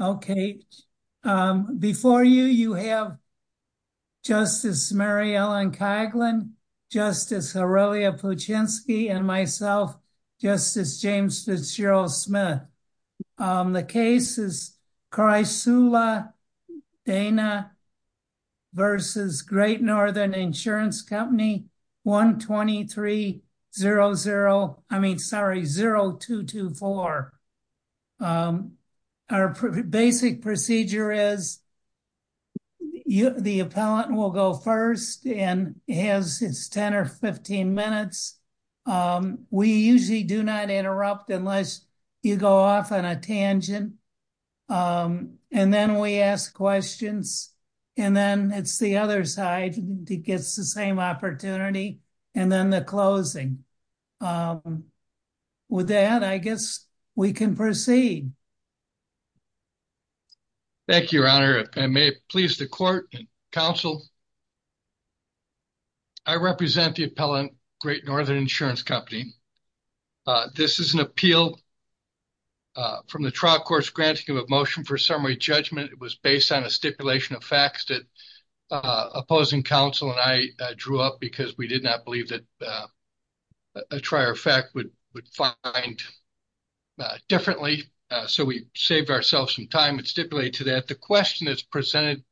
Okay, before you, you have Justice Mary Ellen Coghlan, Justice Aurelia Puczynski, and myself, Justice James Fitzgerald Smith. The case is Chrysula Dana v. Great Northern Insurance Company, 123-00, I mean, sorry, 0224. Our basic procedure is the appellant will go first and has his 10 or 15 minutes. We usually do not interrupt unless you go off on a tangent. And then we ask questions, and then it's the other side that gets the same opportunity, and then the closing. With that, I guess we can proceed. Thank you, Your Honor. If I may please the court and counsel, I represent the appellant, Great Northern Insurance Company. This is an appeal from the trial court's granting of a motion for summary judgment. It was based on a stipulation of facts that opposing counsel and I drew up because we did not believe that a trier fact would find differently. So we saved ourselves some time and stipulated to that. But the question that's presented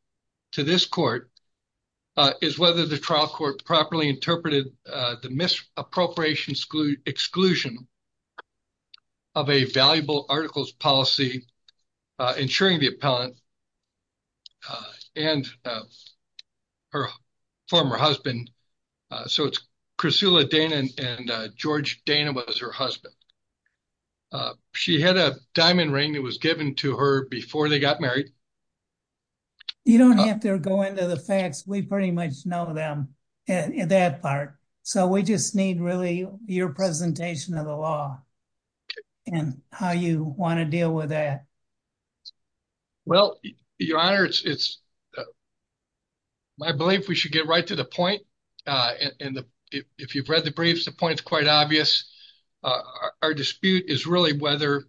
to this court is whether the trial court properly interpreted the misappropriation exclusion of a valuable articles policy insuring the appellant and her former husband. So it's Chrysula Dana and George Dana was her husband. She had a diamond ring that was given to her before they got married. You don't have to go into the facts. We pretty much know them in that part. So we just need really your presentation of the law and how you want to deal with that. Well, Your Honor, it's my belief we should get right to the point. And if you've read the briefs, the point is quite obvious. Our dispute is really whether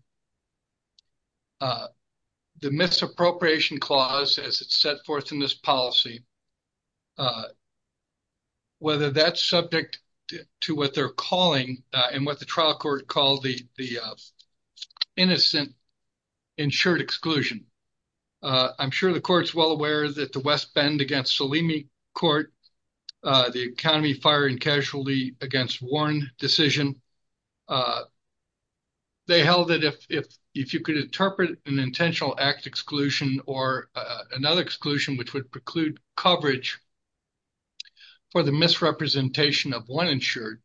the misappropriation clause, as it's set forth in this policy. Whether that's subject to what they're calling and what the trial court called the innocent insured exclusion. I'm sure the court's well aware that the West Bend against Salimi court, the economy, fire and casualty against Warren decision. They held that if if if you could interpret an intentional act exclusion or another exclusion, which would preclude coverage. For the misrepresentation of one insured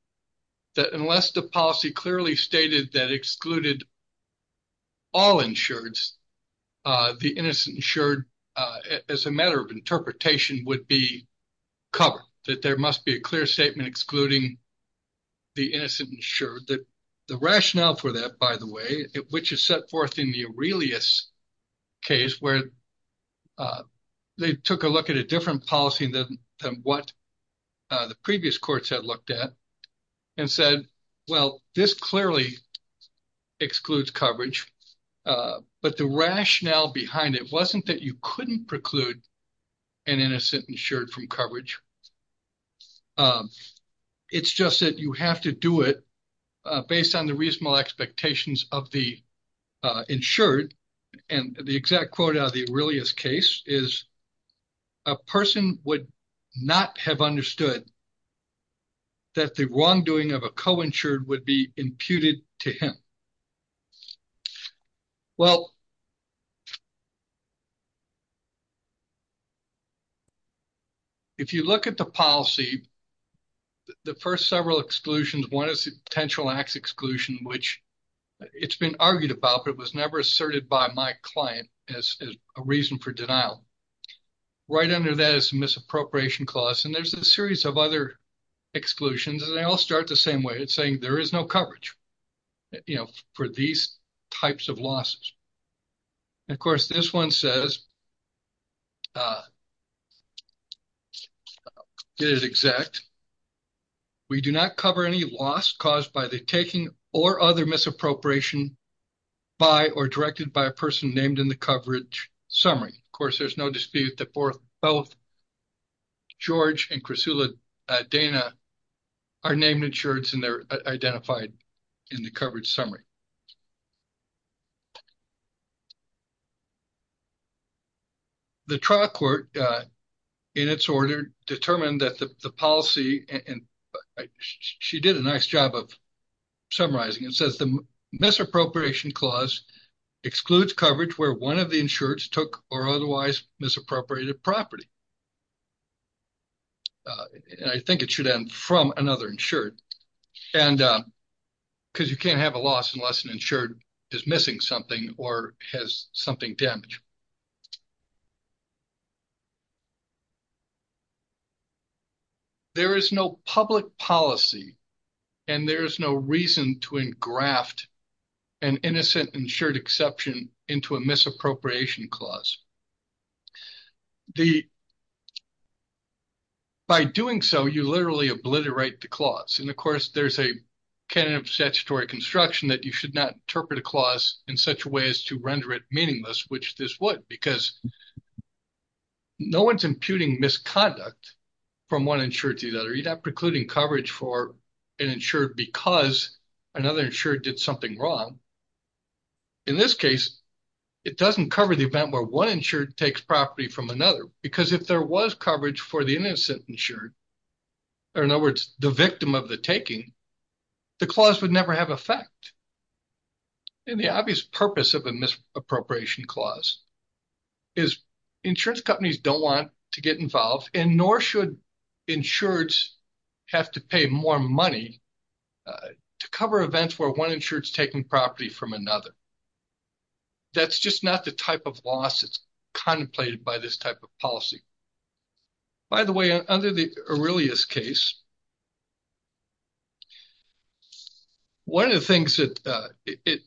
that unless the policy clearly stated that excluded. All insureds, the innocent insured as a matter of interpretation would be covered, that there must be a clear statement excluding. The innocent insured that the rationale for that, by the way, which is set forth in the Aurelius case where they took a look at a different policy. What the previous courts had looked at and said, well, this clearly excludes coverage. But the rationale behind it wasn't that you couldn't preclude an innocent insured from coverage. It's just that you have to do it based on the reasonable expectations of the insured. And the exact quote of the Aurelius case is. A person would not have understood. That the wrongdoing of a co insured would be imputed to him. Well. If you look at the policy. The first several exclusions, one is potential acts exclusion, which it's been argued about, but it was never asserted by my client as a reason for denial. Right under this misappropriation clause, and there's a series of other. Exclusions and they all start the same way. It's saying there is no coverage. You know, for these types of losses. Of course, this one says. It is exact. We do not cover any loss caused by the taking or other misappropriation. By or directed by a person named in the coverage summary. Of course, there's no dispute that for both. George and Chris Dana. Are named insurance and they're identified in the coverage summary. The trial court. In its order determined that the policy and she did a nice job of. Summarizing and says the misappropriation clause. Excludes coverage where one of the insurance took or otherwise misappropriated property. And I think it should end from another insured and. Because you can't have a loss and less than insured is missing something or has something damage. There is no public policy. And there is no reason to graft. An innocent insured exception into a misappropriation clause. The. By doing so, you literally obliterate the clause. And, of course, there's a. Can of statutory construction that you should not interpret a clause in such a way as to render it meaningless, which this would because. No, one's imputing misconduct. From one insurance, you'd have precluding coverage for an insured because another insured did something wrong. In this case. It doesn't cover the event where one insured takes property from another, because if there was coverage for the innocent insured. Or, in other words, the victim of the taking. The clause would never have effect. And the obvious purpose of a misappropriation clause. Is insurance companies don't want to get involved in nor should. Insurance have to pay more money. To cover events where one insurance taking property from another. That's just not the type of loss. It's contemplated by this type of policy. By the way, under the earliest case. One of the things that it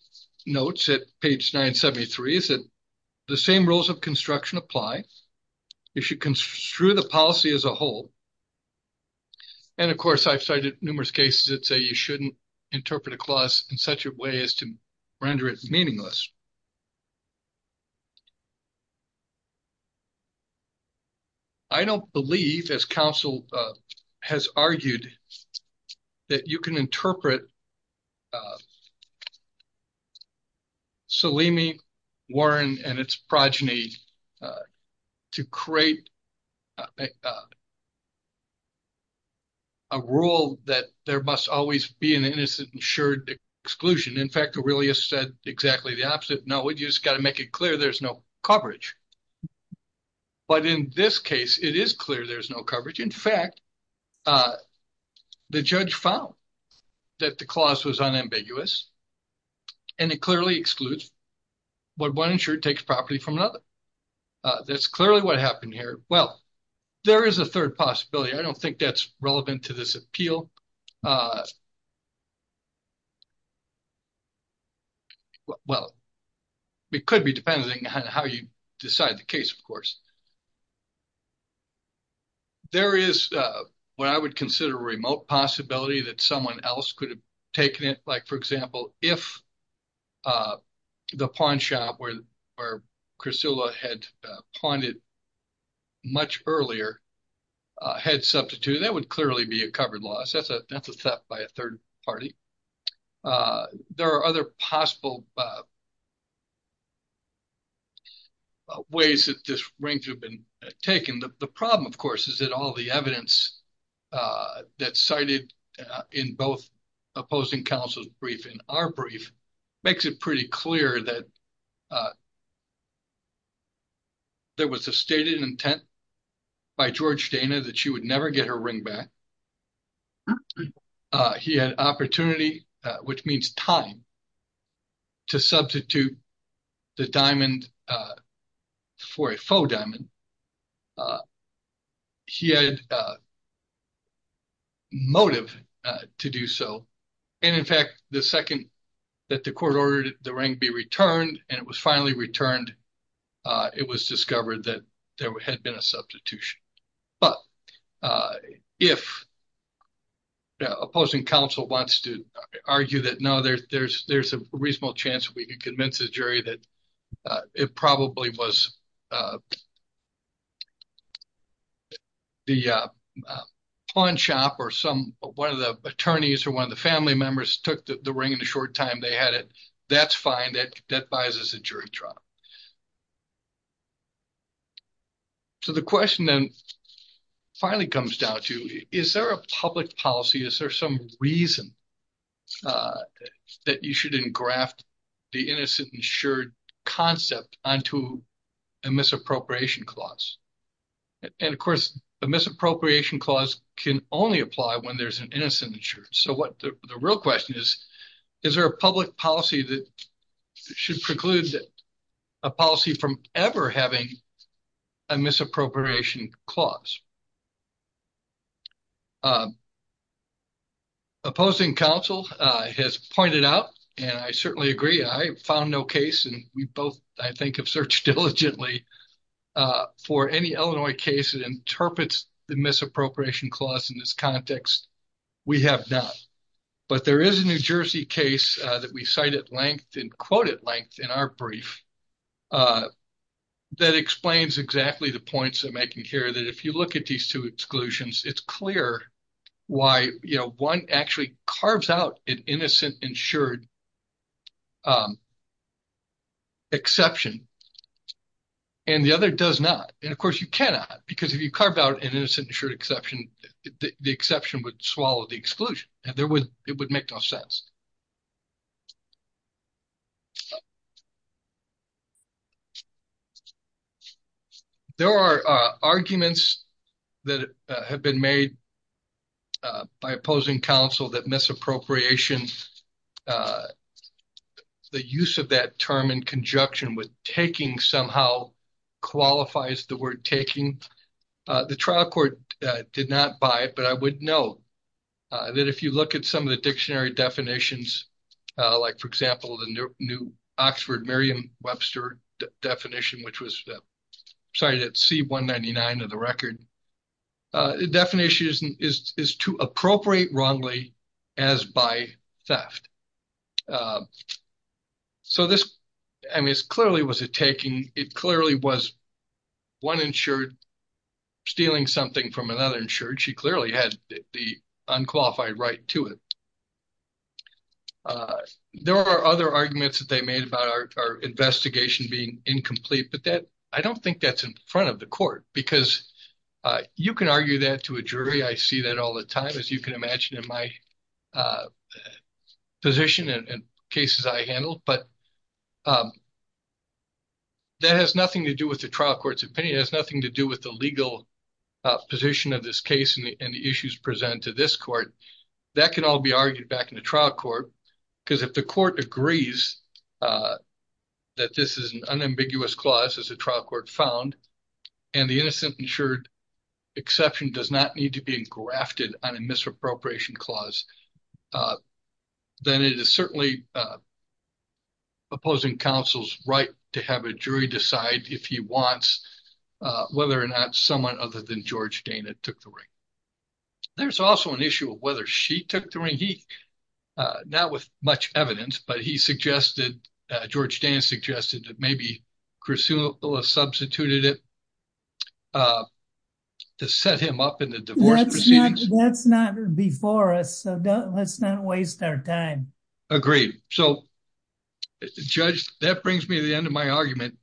notes at page 973 is that. The same rules of construction apply. You should construe the policy as a whole. And, of course, I've cited numerous cases that say you shouldn't interpret a clause in such a way as to render it meaningless. I don't believe as counsel has argued that you can interpret. I don't believe that you can interpret a clause in such a way as to render it meaningless. I think that it's important for. Salimi Warren and its progeny. To create. A rule that there must always be an innocent insured. Exclusion in fact, really said exactly the opposite. No, we just got to make it clear. There's no coverage. But in this case, it is clear there's no coverage. In fact. The judge found that the clause was unambiguous. And it clearly excludes. What one insured takes property from another. That's clearly what happened here. Well. There is a third possibility. I don't think that's relevant to this appeal. Well, it could be depending on how you decide the case. Of course. There is what I would consider a remote possibility that someone else could have taken it. Like, for example, if. The pawn shop where, where Chris had pointed. Much earlier had substituted that would clearly be a covered loss. That's a, that's a step by a 3rd party. There are other possible. Ways that this range have been taken. The problem, of course, is that all the evidence. That cited in both opposing counsel's brief in our brief. Makes it pretty clear that. There was a stated intent by George Dana that she would never get her ring back. He had opportunity, which means time. To substitute the diamond. For a full diamond. She had. Motive to do so. And in fact, the 2nd. That the court ordered the ring be returned and it was finally returned. It was discovered that there had been a substitution. But if. Opposing counsel wants to argue that no, there's, there's, there's a reasonable chance that we could convince the jury that. It probably was. The pawn shop or some 1 of the attorneys or 1 of the family members took the ring in a short time. They had it. That's fine. That that buys us a jury trial. So, the question then finally comes down to, is there a public policy? Is there some reason. That you shouldn't graft the innocent insured concept on to. And misappropriation clause, and, of course, the misappropriation clause can only apply when there's an innocent insurance. So what the real question is, is there a public policy that. Should preclude a policy from ever having a misappropriation clause. Opposing counsel has pointed out and I certainly agree. I found no case and we both, I think of search diligently. For any Illinois case, it interprets the misappropriation clause in this context. We have not, but there is a New Jersey case that we cited length and quoted length in our brief. That explains exactly the points I'm making here that if you look at these 2 exclusions, it's clear. Why 1 actually carves out an innocent insured. Exception, and the other does not and, of course, you cannot, because if you carve out an innocent insured exception, the exception would swallow the exclusion and there would it would make no sense. There are arguments. That have been made by opposing counsel that misappropriation. The use of that term in conjunction with taking somehow qualifies the word taking the trial court did not buy it, but I would know. That if you look at some of the dictionary definitions, like, for example, the new Oxford Merriam Webster definition, which was cited at C199 of the record. Definition is to appropriate wrongly as by theft. So, this is clearly was it taking it clearly was. 1 insured stealing something from another insurance. She clearly had the unqualified right to it. There are other arguments that they made about our investigation being incomplete, but that I don't think that's in front of the court because you can argue that to a jury. I see that all the time as you can imagine in my position and cases I handled, but. That has nothing to do with the trial court's opinion has nothing to do with the legal position of this case and the issues present to this court that can all be argued back in the trial court. Because if the court agrees that this is an ambiguous clause as a trial court found, and the innocent insured exception does not need to be grafted on a misappropriation clause. Then it is certainly opposing counsel's right to have a jury decide if he wants whether or not someone other than George Dana took the ring. There's also an issue of whether she took the ring. He not with much evidence, but he suggested George Dan suggested that maybe Chris substituted it. To set him up in the divorce. That's not before us. So, let's not waste our time. Agreed. So, judge, that brings me to the end of my argument.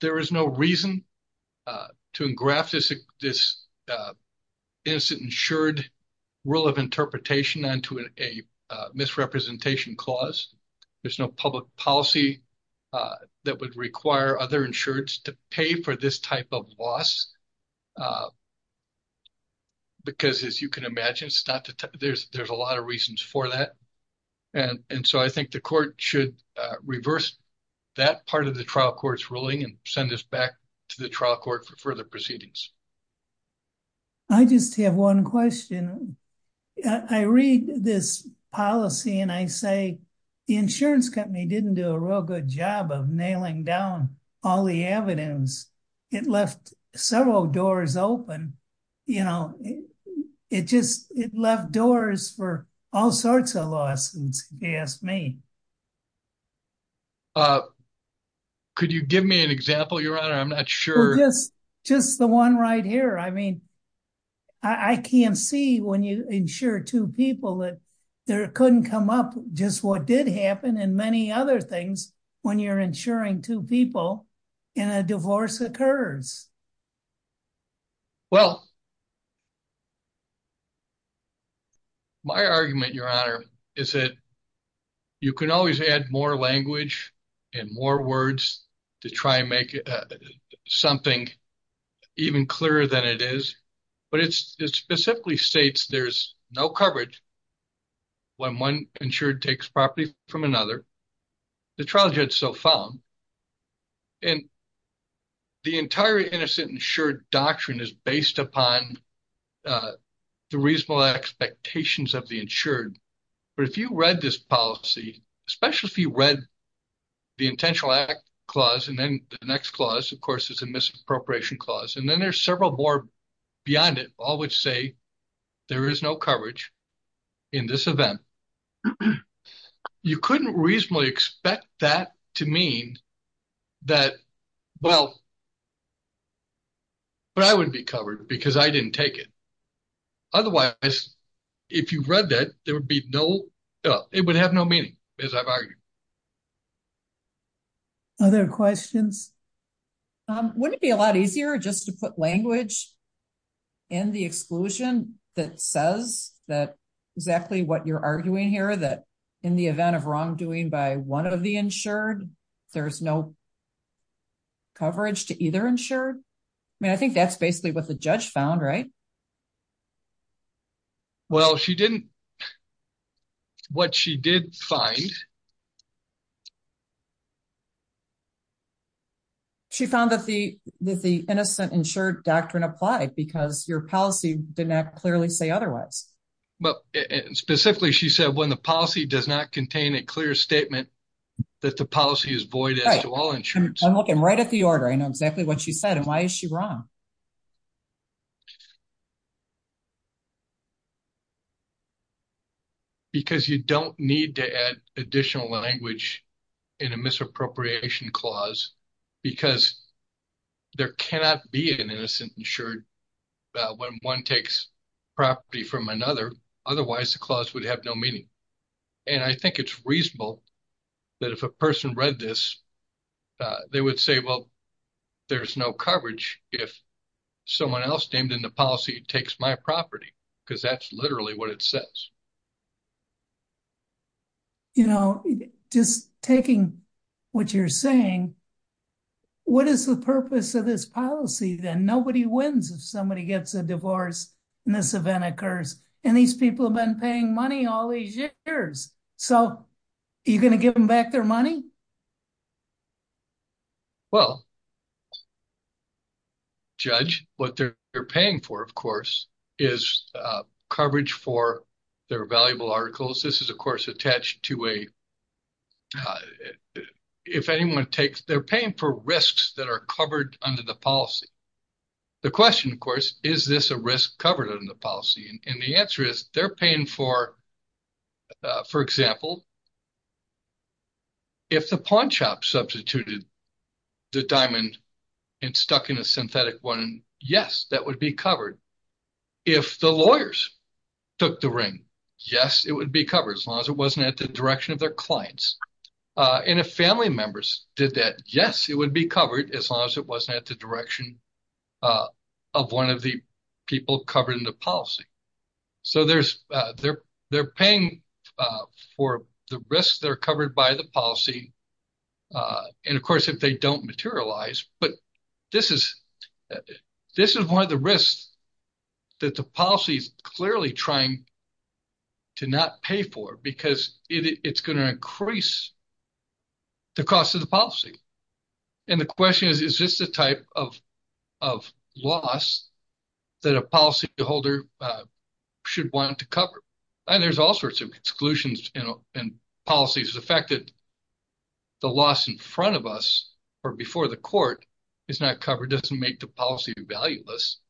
There is no reason to engraft this, this instant insured rule of interpretation on to a misrepresentation clause. There's no public policy that would require other insurance to pay for this type of loss. Because, as you can imagine, there's a lot of reasons for that. And so I think the court should reverse that part of the trial court's ruling and send us back to the trial court for further proceedings. I just have 1 question. I read this policy and I say, the insurance company didn't do a real good job of nailing down all the evidence. It left several doors open, you know, it just, it left doors for all sorts of lawsuits. Uh, could you give me an example? Your honor? I'm not sure. Yes, just the 1 right here. I mean, I can't see when you ensure 2 people that there couldn't come up just what did happen. And many other things when you're ensuring 2 people in a divorce occurs. Well, my argument, your honor, is that you can always add more language and more words to try and make something even clearer than it is. But it's specifically states there's no coverage. When 1 insured takes property from another, the trial judge so found. And the entire innocent insured doctrine is based upon the reasonable expectations of the insured. But if you read this policy, especially if you read the intentional act clause, and then the next clause, of course, is a misappropriation clause. And then there's several more beyond it, all which say there is no coverage in this event. You couldn't reasonably expect that to mean that. Well, but I wouldn't be covered because I didn't take it. Otherwise, if you read that, there would be no, it would have no meaning as I've argued. Other questions. Wouldn't it be a lot easier just to put language. In the exclusion that says that exactly what you're arguing here that in the event of wrongdoing by 1 of the insured, there's no. Coverage to either ensure. I mean, I think that's basically what the judge found. Right? Well, she didn't. What she did find. She found that the innocent insured doctrine applied because your policy did not clearly say otherwise. Specifically, she said when the policy does not contain a clear statement. That the policy is void to all insurance. I'm looking right at the order. I know exactly what she said. And why is she wrong? Because you don't need to add additional language. In a misappropriation clause, because. There cannot be an innocent insured. When 1 takes property from another, otherwise, the clause would have no meaning. And I think it's reasonable that if a person read this. They would say, well, there's no coverage if. Someone else named in the policy takes my property. Because that's literally what it says, you know, just taking. What you're saying, what is the purpose of this policy? Then nobody wins if somebody gets a divorce. And this event occurs, and these people have been paying money all these years. So, you're going to give them back their money. Well, judge what they're paying for, of course. Is coverage for their valuable articles. This is, of course, attached to a. If anyone takes their pain for risks that are covered under the policy. The question, of course, is this a risk covered in the policy? And the answer is they're paying for, for example. If the pawn shop substituted the diamond and stuck in a synthetic one. Yes, that would be covered. If the lawyers took the ring. Yes, it would be covered as long as it wasn't at the direction of their clients. And a family members did that. Yes, it would be covered. As long as it wasn't at the direction. Of one of the people covered in the policy. So there's they're, they're paying for the risks that are covered by the policy. And, of course, if they don't materialize, but this is, this is one of the risks. That the policy is clearly trying to not pay for, because it's going to increase. The cost of the policy and the question is, is this the type of. Of loss that a policy holder. Should want to cover and there's all sorts of exclusions and policies affected. The loss in front of us, or before the court. It's not covered doesn't make the policy value list.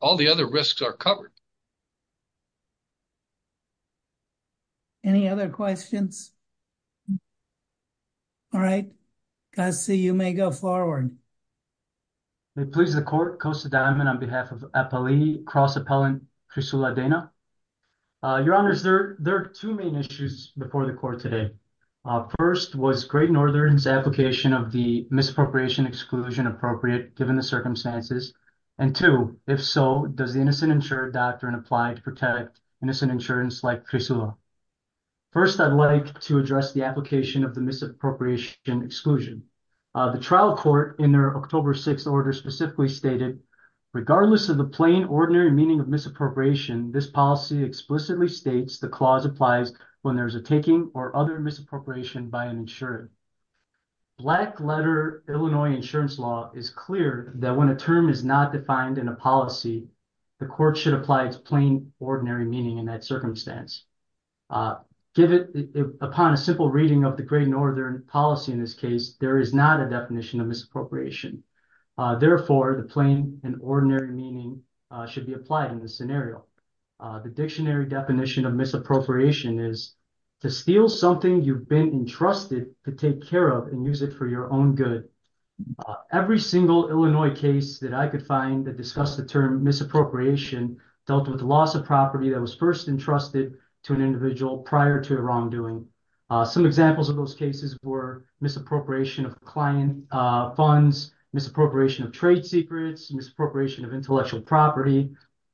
All the other risks are covered. Any other questions. All right. I see you may go forward. They please the court coast of diamond on behalf of cross appellant. Your honor is there. There are two main issues before the court today. First was great Northern's application of the misappropriation exclusion appropriate given the circumstances. And two, if so, does the innocent insured doctrine applied to protect innocent insurance like. First, I'd like to address the application of the misappropriation exclusion. The trial court in their October 6 order specifically stated, regardless of the plain ordinary meaning of misappropriation. This policy explicitly states the clause applies when there's a taking or other misappropriation by an insured. Black letter Illinois insurance law is clear that when a term is not defined in a policy. The court should apply its plain ordinary meaning in that circumstance. Give it upon a simple reading of the great Northern policy. In this case, there is not a definition of misappropriation. Therefore, the plain and ordinary meaning should be applied in this scenario. The dictionary definition of misappropriation is to steal something you've been entrusted to take care of and use it for your own good. Every single Illinois case that I could find that discuss the term misappropriation dealt with the loss of property that was first entrusted to an individual prior to a wrongdoing. Some examples of those cases were misappropriation of client funds, misappropriation of trade secrets, misappropriation of intellectual property.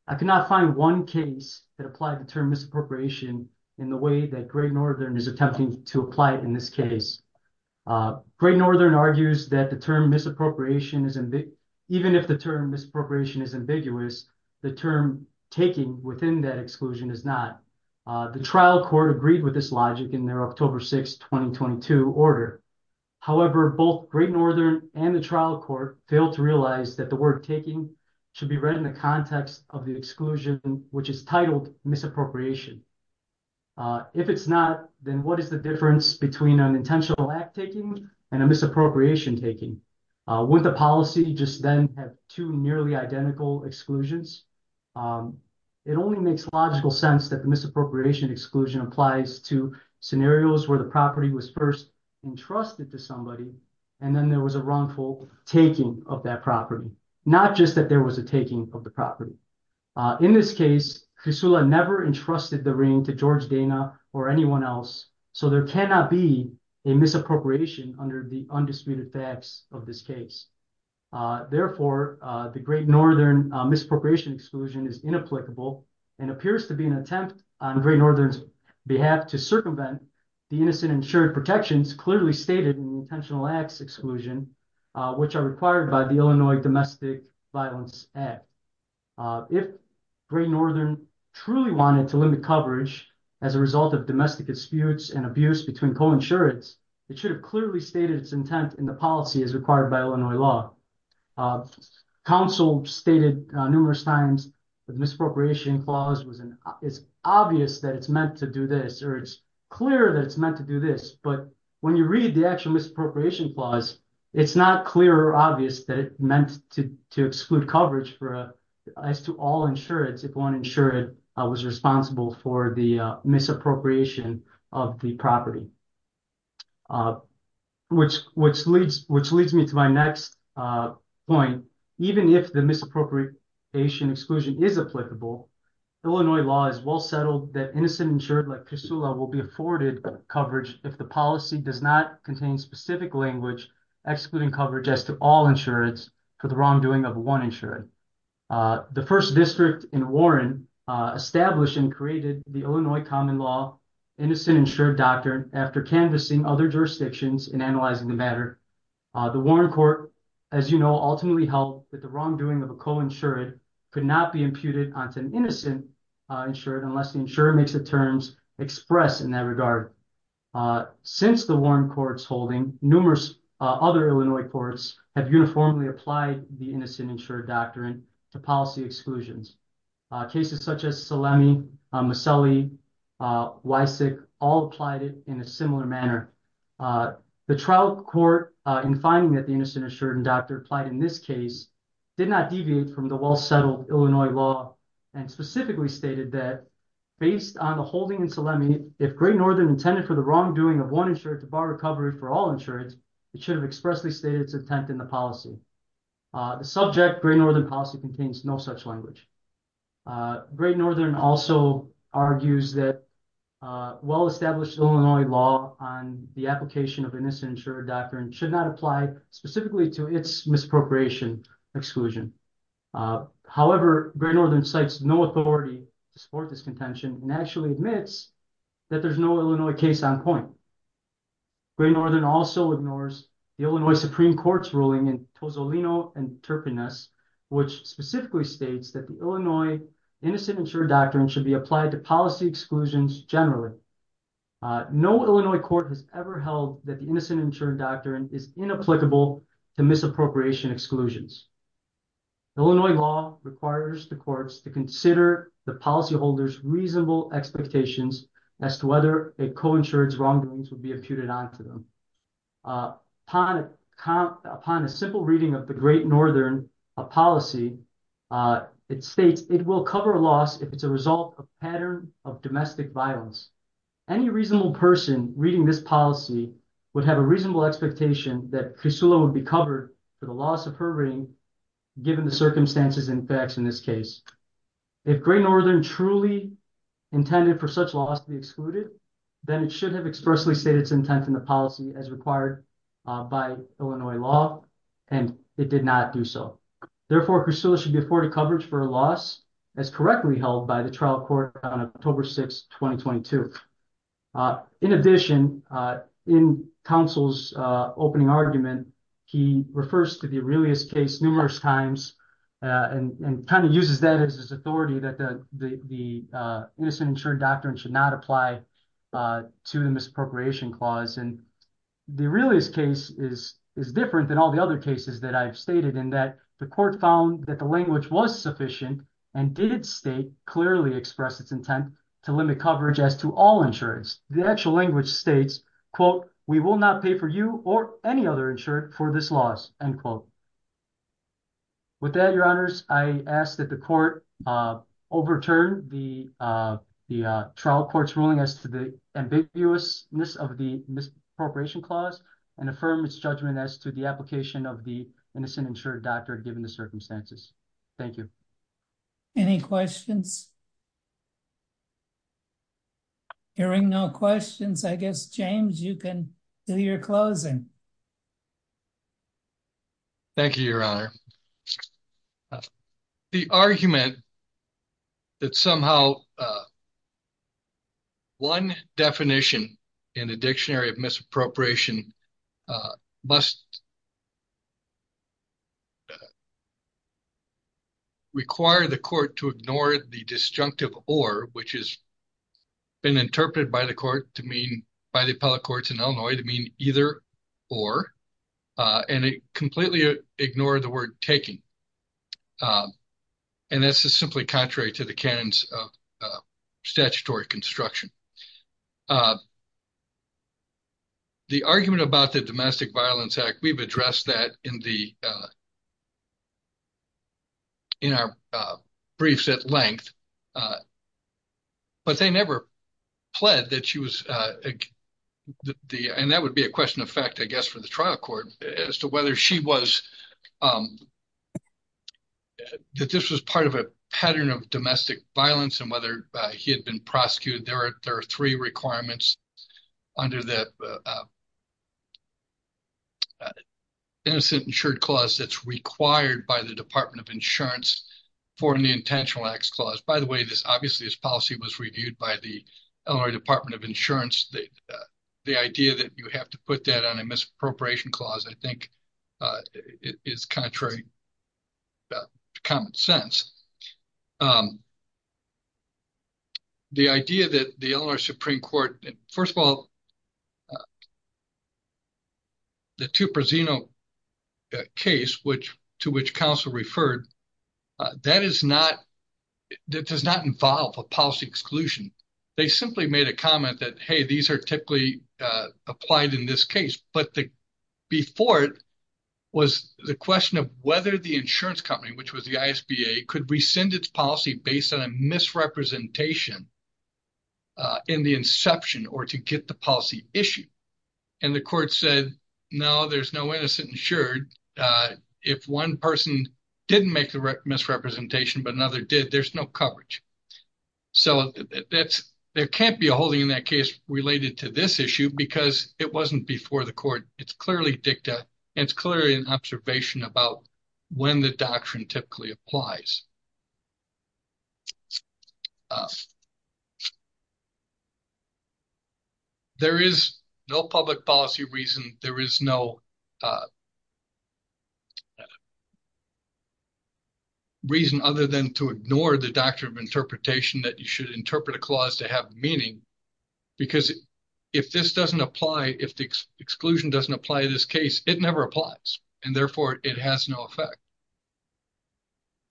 I could not find one case that applied the term misappropriation in the way that great Northern is attempting to apply it in this case. Great Northern argues that the term misappropriation is, even if the term misappropriation is ambiguous, the term taking within that exclusion is not. The trial court agreed with this logic in their October 6, 2022 order. However, both great Northern and the trial court failed to realize that the word taking should be read in the context of the exclusion, which is titled misappropriation. If it's not, then what is the difference between an intentional act taking and a misappropriation taking? Would the policy just then have two nearly identical exclusions? It only makes logical sense that the misappropriation exclusion applies to scenarios where the property was first entrusted to somebody, and then there was a wrongful taking of that property. Not just that there was a taking of the property. In this case, Chrysoula never entrusted the ring to George Dana or anyone else, so there cannot be a misappropriation under the undisputed facts of this case. Therefore, the great Northern misappropriation exclusion is inapplicable and appears to be an attempt on great Northern's behalf to circumvent the innocent insured protections clearly stated in the intentional acts exclusion, which are required by the Illinois Domestic Violence Act. If great Northern truly wanted to limit coverage as a result of domestic disputes and abuse between coinsurance, it should have clearly stated its intent in the policy as required by Illinois law. Council stated numerous times that misappropriation clause is obvious that it's meant to do this, or it's clear that it's meant to do this. But when you read the actual misappropriation clause, it's not clear or obvious that it's meant to exclude coverage as to all insured, if one insured was responsible for the misappropriation of the property. Which leads me to my next point. Even if the misappropriation exclusion is applicable, Illinois law is well settled that innocent insured like Chrysoula will be afforded coverage if the policy does not contain specific language excluding coverage as to all insured for the wrongdoing of one insured. The first district in Warren established and created the Illinois common law innocent insured doctrine after canvassing other jurisdictions in analyzing the matter. The Warren court, as you know, ultimately held that the wrongdoing of a coinsured could not be imputed onto an innocent insured unless the insurer makes the terms expressed in that regard. Since the Warren court's holding, numerous other Illinois courts have uniformly applied the innocent insured doctrine to policy exclusions. Cases such as Salemi, Maselli, Wysick all applied it in a similar manner. The trial court in finding that the innocent insured doctrine applied in this case did not deviate from the well settled Illinois law and specifically stated that based on the holding in Salemi, if Great Northern intended for the wrongdoing of one insured to bar recovery for all insured, it should have expressly stated its intent in the policy. The subject Great Northern policy contains no such language. Great Northern also argues that well established Illinois law on the application of innocent insured doctrine should not apply specifically to its misappropriation exclusion. However, Great Northern cites no authority to support this contention and actually admits that there's no Illinois case on point. Great Northern also ignores the Illinois Supreme Court's ruling in Tozzolino and Turpinus, which specifically states that the Illinois innocent insured doctrine should be applied to policy exclusions generally. No Illinois court has ever held that the innocent insured doctrine is inapplicable to misappropriation exclusions. Illinois law requires the courts to consider the policyholders reasonable expectations as to whether a co-insured's wrongdoings would be imputed onto them. Upon a simple reading of the Great Northern policy, it states it will cover a loss if it's a result of pattern of domestic violence. Any reasonable person reading this policy would have a reasonable expectation that Crisulo would be covered for the loss of her ring, given the circumstances and facts in this case. If Great Northern truly intended for such loss to be excluded, then it should have expressly stated its intent in the policy as required by Illinois law, and it did not do so. Therefore, Crisulo should be afforded coverage for a loss as correctly held by the trial court on October 6, 2022. In addition, in counsel's opening argument, he refers to the Aurelius case numerous times and kind of uses that as his authority that the innocent insured doctrine should not apply to the misappropriation clause. The Aurelius case is different than all the other cases that I've stated in that the court found that the language was sufficient and did state clearly express its intent to limit coverage as to all insureds. The actual language states, quote, we will not pay for you or any other insured for this loss, end quote. With that, Your Honors, I ask that the court overturn the trial court's ruling as to the ambiguousness of the misappropriation clause and affirm its judgment as to the application of the innocent insured doctrine, given the circumstances. Thank you. Any questions? Hearing no questions, I guess, James, you can do your closing. Thank you, Your Honor. The argument that somehow one definition in a dictionary of misappropriation must require the court to ignore the disjunctive or, which has been interpreted by the court to mean by the appellate courts in Illinois to mean either or. And it completely ignored the word taking. And this is simply contrary to the canons of statutory construction. The argument about the Domestic Violence Act, we've addressed that in the. In our briefs at length. But they never pled that she was the and that would be a question of fact, I guess, for the trial court as to whether she was. That this was part of a pattern of domestic violence and whether he had been prosecuted, there are three requirements under the. Innocent insured clause that's required by the Department of Insurance for an intentional X clause, by the way, this obviously is policy was reviewed by the Department of Insurance. The idea that you have to put that on a misappropriation clause, I think is contrary. Common sense. The idea that the Supreme Court, first of all. The two casino case, which to which counsel referred that is not that does not involve a policy exclusion. They simply made a comment that, hey, these are typically applied in this case. But the before it was the question of whether the insurance company, which was the could we send its policy based on a misrepresentation in the inception or to get the policy issue. And the court said, no, there's no innocent insured. If one person didn't make the misrepresentation, but another did, there's no coverage. So, that's there can't be a holding in that case related to this issue because it wasn't before the court. It's clearly dicta and it's clearly an observation about when the doctrine typically applies. There is no public policy reason. There is no. Reason other than to ignore the doctrine of interpretation that you should interpret a clause to have meaning. Because if this doesn't apply, if the exclusion doesn't apply this case, it never applies and therefore it has no effect.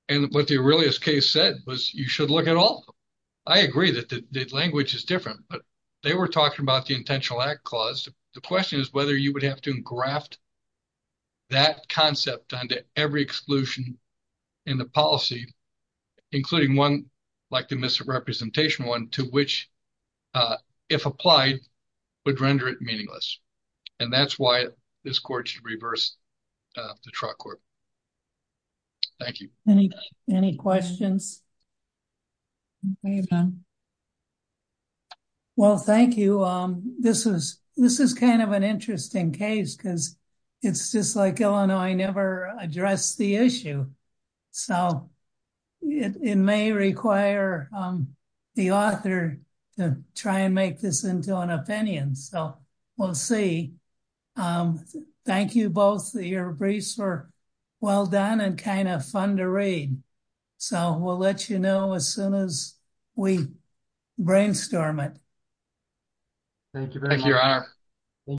And what the earliest case said was you should look at all. I agree that the language is different, but they were talking about the intentional act clause. The question is whether you would have to graft that concept on to every exclusion in the policy, including 1, like, the misrepresentation 1 to which if applied would render it meaningless. And that's why this court should reverse the truck or. Thank you any, any questions. Well, thank you. This is this is kind of an interesting case because it's just like Illinois never address the issue. So, it may require the author to try and make this into an opinion. So we'll see. Thank you both. The briefs are well done and kind of fun to read. So we'll let, you know, as soon as we brainstorm it. Thank you. Thank you.